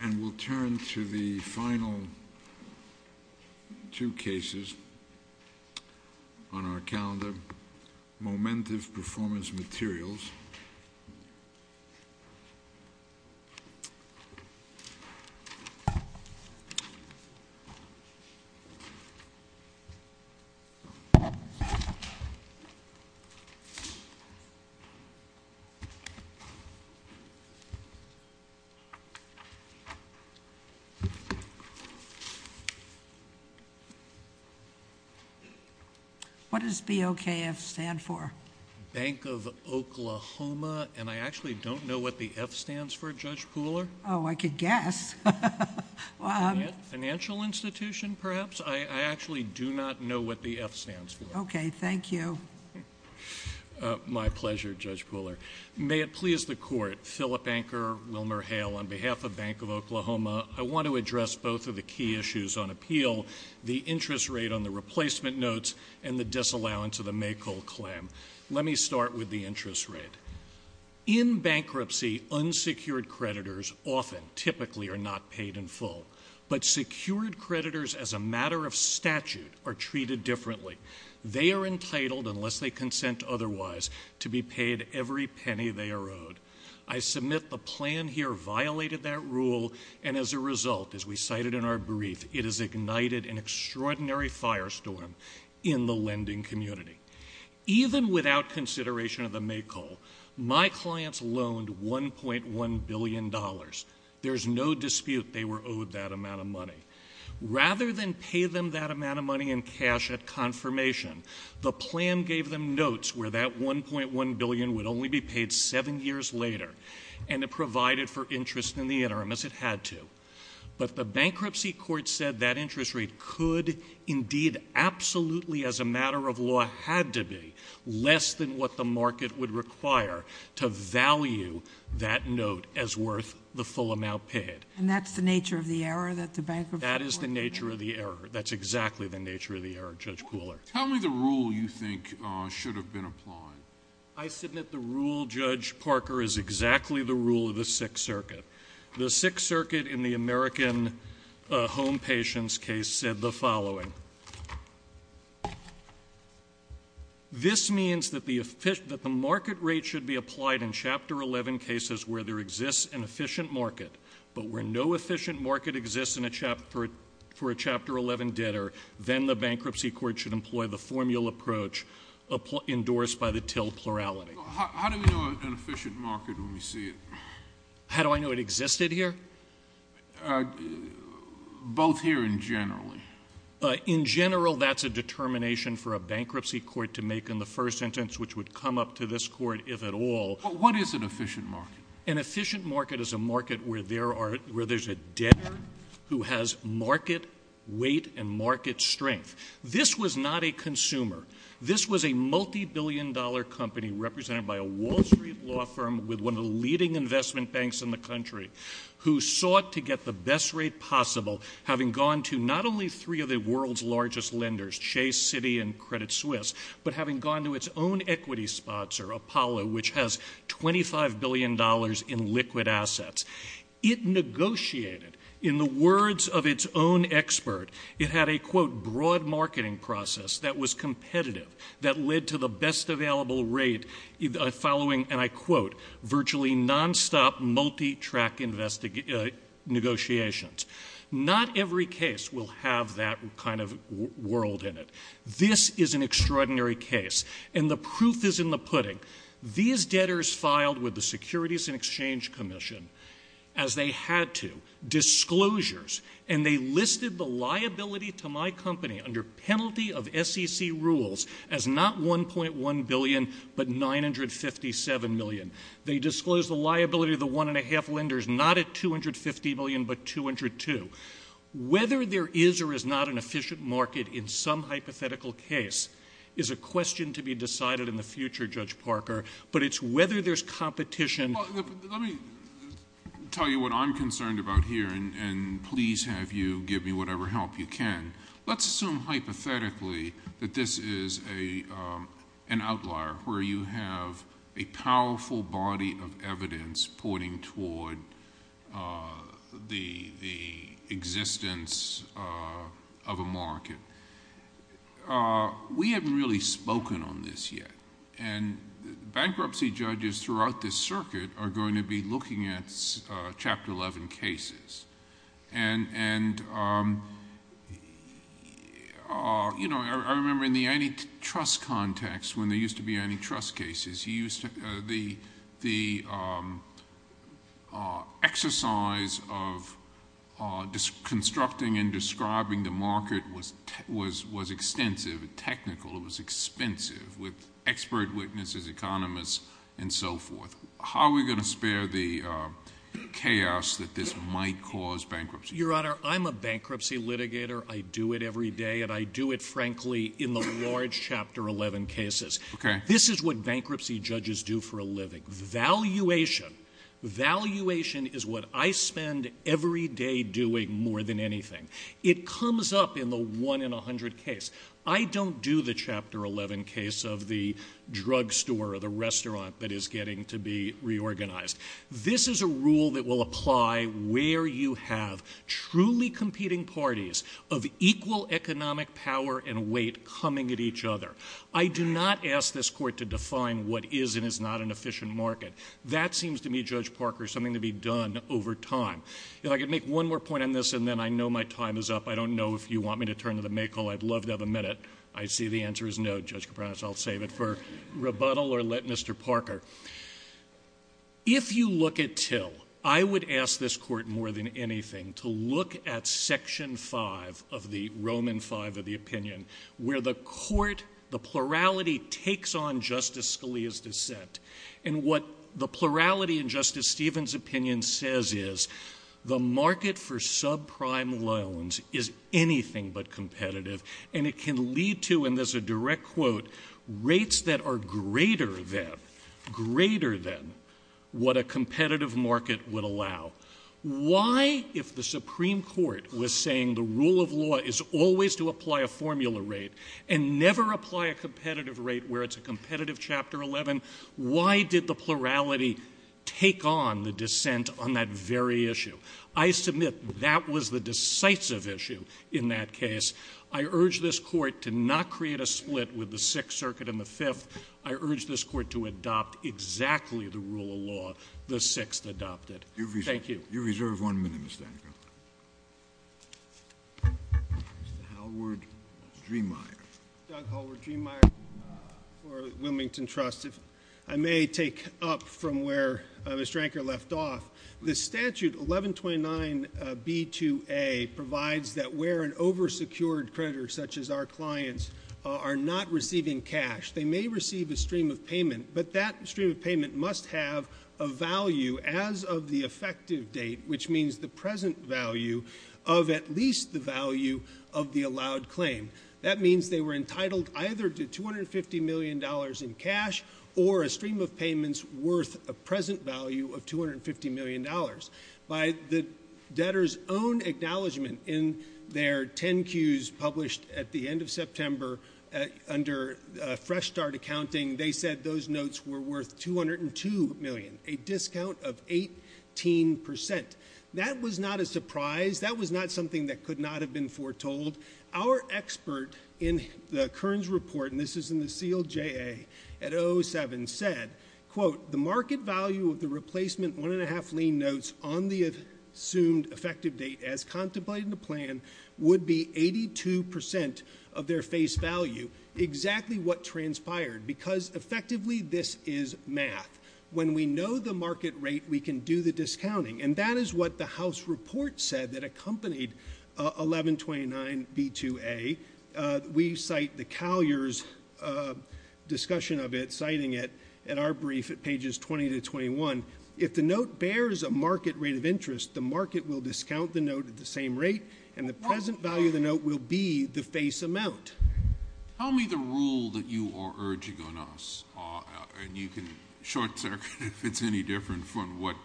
And we'll turn to the final two cases on our calendar, Moment of Performance Materials. What does BOKF stand for? Bank of Oklahoma. And I actually don't know what the F stands for, Judge Pooler. Oh, I could guess. Financial institution, perhaps? I actually do not know what the F stands for. Okay, thank you. My pleasure, Judge Pooler. May it please the Court, Philip Anker, Wilmer Hale, on behalf of Bank of Oklahoma, I want to address both of the key issues on appeal, the interest rate on the replacement notes and the disallowance of the Maykull claim. Let me start with the interest rate. In bankruptcy, unsecured creditors often, typically, are not paid in full. But secured creditors, as a matter of statute, are treated differently. They are entitled, unless they consent otherwise, to be paid every penny they are owed. I submit the plan here violated that rule, and as a result, as we cited in our brief, it has ignited an extraordinary firestorm in the lending community. Even without consideration of the Maykull, my clients loaned $1.1 billion. There's no dispute they were owed that amount of money. Rather than pay them that amount of money in cash at confirmation, the plan gave them notes where that $1.1 billion would only be paid seven years later, and it provided for interest in the interim, as it had to. But the bankruptcy court said that interest rate could, indeed, absolutely, as a matter of law had to be, less than what the market would require to value that note as worth the full amount paid. And that's the nature of the error that the bankruptcy court made? That is the nature of the error. That's exactly the nature of the error, Judge Kuhler. Tell me the rule you think should have been applied. I submit the rule, Judge Parker, is exactly the rule of the Sixth Circuit. The Sixth Circuit, in the American Home Patients case, said the following. This means that the market rate should be applied in Chapter 11 cases where there exists an efficient market, but where no efficient market exists for a Chapter 11 debtor, then the bankruptcy court should employ the formula approach endorsed by the till plurality. How do we know an efficient market when we see it? How do I know it existed here? Both here and generally. In general, that's a determination for a bankruptcy court to make in the first sentence, which would come up to this court, if at all. But what is an efficient market? An efficient market is a market where there's a debtor who has market weight and market strength. This was not a consumer. This was a multibillion-dollar company represented by a Wall Street law firm with one of the leading investment banks in the country who sought to get the best rate possible, having gone to not only three of the world's largest lenders, Chase, Citi, and Credit Suisse, but having gone to its own equity sponsor, Apollo, which has $25 billion in liquid assets. It negotiated. In the words of its own expert, it had a, quote, broad marketing process that was competitive that led to the best available rate following, and I quote, virtually nonstop multi-track negotiations. Not every case will have that kind of world in it. This is an extraordinary case, and the proof is in the pudding. These debtors filed with the Securities and Exchange Commission as they had to, disclosures, and they listed the liability to my company under penalty of SEC rules as not $1.1 billion but $957 million. They disclosed the liability of the one-and-a-half lenders not at $250 million but $202. Whether there is or is not an efficient market in some hypothetical case is a question to be decided in the future, Judge Parker, but it's whether there's competition. Let me tell you what I'm concerned about here, and please have you give me whatever help you can. Let's assume hypothetically that this is an outlier where you have a powerful body of evidence pointing toward the existence of a market. We haven't really spoken on this yet, and bankruptcy judges throughout this circuit are going to be looking at Chapter 11 cases. I remember in the antitrust context when there used to be antitrust cases, the exercise of constructing and describing the market was extensive and technical. It was expensive with expert witnesses, economists, and so forth. How are we going to spare the chaos that this might cause bankruptcy? Your Honor, I'm a bankruptcy litigator. I do it every day, and I do it, frankly, in the large Chapter 11 cases. This is what bankruptcy judges do for a living, valuation. Valuation is what I spend every day doing more than anything. It comes up in the one-in-a-hundred case. I don't do the Chapter 11 case of the drugstore or the restaurant that is getting to be reorganized. This is a rule that will apply where you have truly competing parties of equal economic power and weight coming at each other. I do not ask this Court to define what is and is not an efficient market. That seems to me, Judge Parker, something to be done over time. If I could make one more point on this, and then I know my time is up. I don't know if you want me to turn to the May call. I'd love to have a minute. I see the answer is no. Judge Kipranos, I'll save it for rebuttal or let Mr. Parker. If you look at Till, I would ask this Court, more than anything, to look at Section 5 of the Roman V of the opinion, where the court, the plurality, takes on Justice Scalia's dissent. And what the plurality in Justice Stevens' opinion says is the market for subprime loans is anything but competitive, and it can lead to, and this is a direct quote, rates that are greater than what a competitive market would allow. Why, if the Supreme Court was saying the rule of law is always to apply a formula rate and never apply a competitive rate where it's a competitive Chapter 11, why did the plurality take on the dissent on that very issue? I submit that was the decisive issue in that case. I urge this Court to not create a split with the Sixth Circuit and the Fifth. I urge this Court to adopt exactly the rule of law the Sixth adopted. Thank you. You reserve one minute, Mr. Anacostia. Mr. Hallward-Driemeier. Doug Hallward-Driemeier for Wilmington Trust. If I may take up from where Ms. Dranker left off, the statute 1129B2A provides that where an over-secured creditor, such as our clients, are not receiving cash, they may receive a stream of payment, but that stream of payment must have a value as of the effective date, which means the present value of at least the value of the allowed claim. That means they were entitled either to $250 million in cash or a stream of payments worth a present value of $250 million. By the debtors' own acknowledgment in their 10-Qs published at the end of September under Fresh Start Accounting, they said those notes were worth $202 million, a discount of 18%. That was not a surprise. That was not something that could not have been foretold. Our expert in the Kearns report, and this is in the CLJA at 07, said, quote, the market value of the replacement one-and-a-half lien notes on the assumed effective date as contemplated in the plan would be 82% of their face value, exactly what transpired, because effectively this is math. When we know the market rate, we can do the discounting. And that is what the House report said that accompanied 1129B2A. We cite the Callier's discussion of it, citing it in our brief at pages 20 to 21. If the note bears a market rate of interest, the market will discount the note at the same rate, and the present value of the note will be the face amount. Tell me the rule that you are urging on us, and you can short-circuit if it's any different from what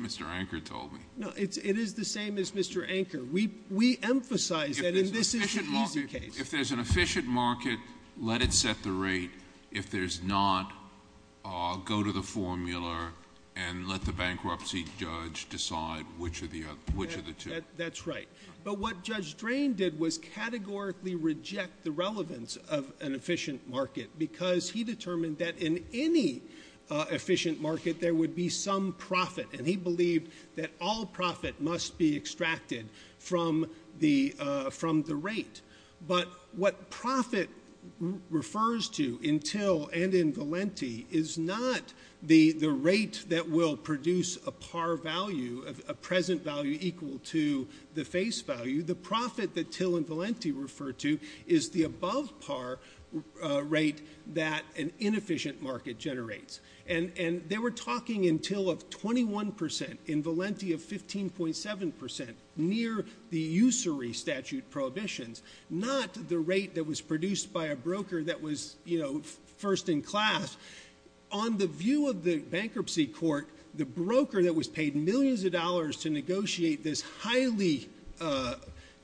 Mr. Anker told me. No, it is the same as Mr. Anker. We emphasize that, and this is an easy case. If there's an efficient market, let it set the rate. If there's not, go to the formula and let the bankruptcy judge decide which are the two. That's right. But what Judge Drain did was categorically reject the relevance of an efficient market because he determined that in any efficient market there would be some profit, and he believed that all profit must be extracted from the rate. But what profit refers to in Till and in Valenti is not the rate that will produce a par value, a present value equal to the face value. The profit that Till and Valenti refer to is the above-par rate that an inefficient market generates. And they were talking in Till of 21 percent, in Valenti of 15.7 percent, near the usury statute prohibitions, not the rate that was produced by a broker that was, you know, first in class. On the view of the bankruptcy court, the broker that was paid millions of dollars to negotiate this highly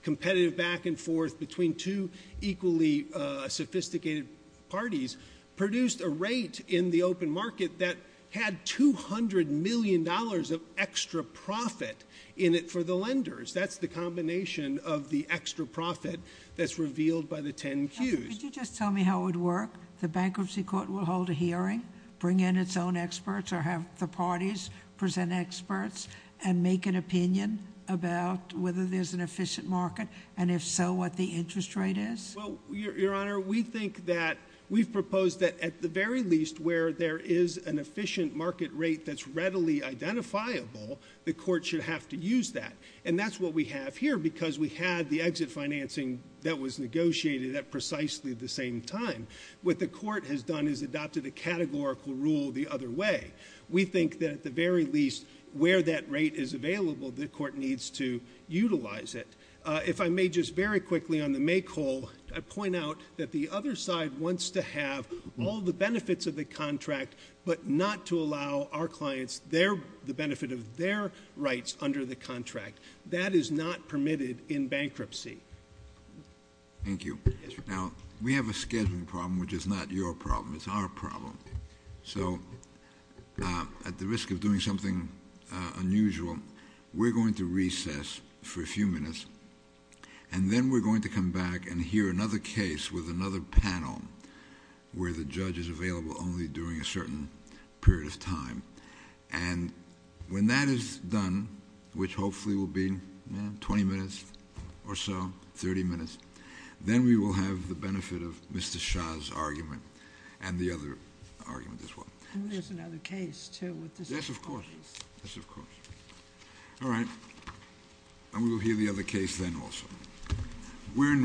competitive back-and-forth between two equally sophisticated parties produced a rate in the open market that had $200 million of extra profit in it for the lenders. That's the combination of the extra profit that's revealed by the 10 Qs. Could you just tell me how it would work? The bankruptcy court will hold a hearing, bring in its own experts, or have the parties present experts and make an opinion about whether there's an efficient market, and if so, what the interest rate is? Well, Your Honor, we think that we've proposed that at the very least, where there is an efficient market rate that's readily identifiable, the court should have to use that. And that's what we have here, because we had the exit financing that was negotiated at precisely the same time. What the court has done is adopted a categorical rule the other way. We think that at the very least, where that rate is available, the court needs to utilize it. If I may just very quickly, on the make-all, I point out that the other side wants to have all the benefits of the contract, but not to allow our clients the benefit of their rights under the contract. That is not permitted in bankruptcy. Thank you. Now, we have a scheduling problem, which is not your problem. It's our problem. So, at the risk of doing something unusual, we're going to recess for a few minutes, and then we're going to come back and hear another case with another panel, where the judge is available only during a certain period of time. And when that is done, which hopefully will be 20 minutes or so, 30 minutes, then we will have the benefit of Mr. Shah's argument and the other argument as well. And there's another case, too, with the same parties. Yes, of course. Yes, of course. All right. And we will hear the other case then also. We're in recess.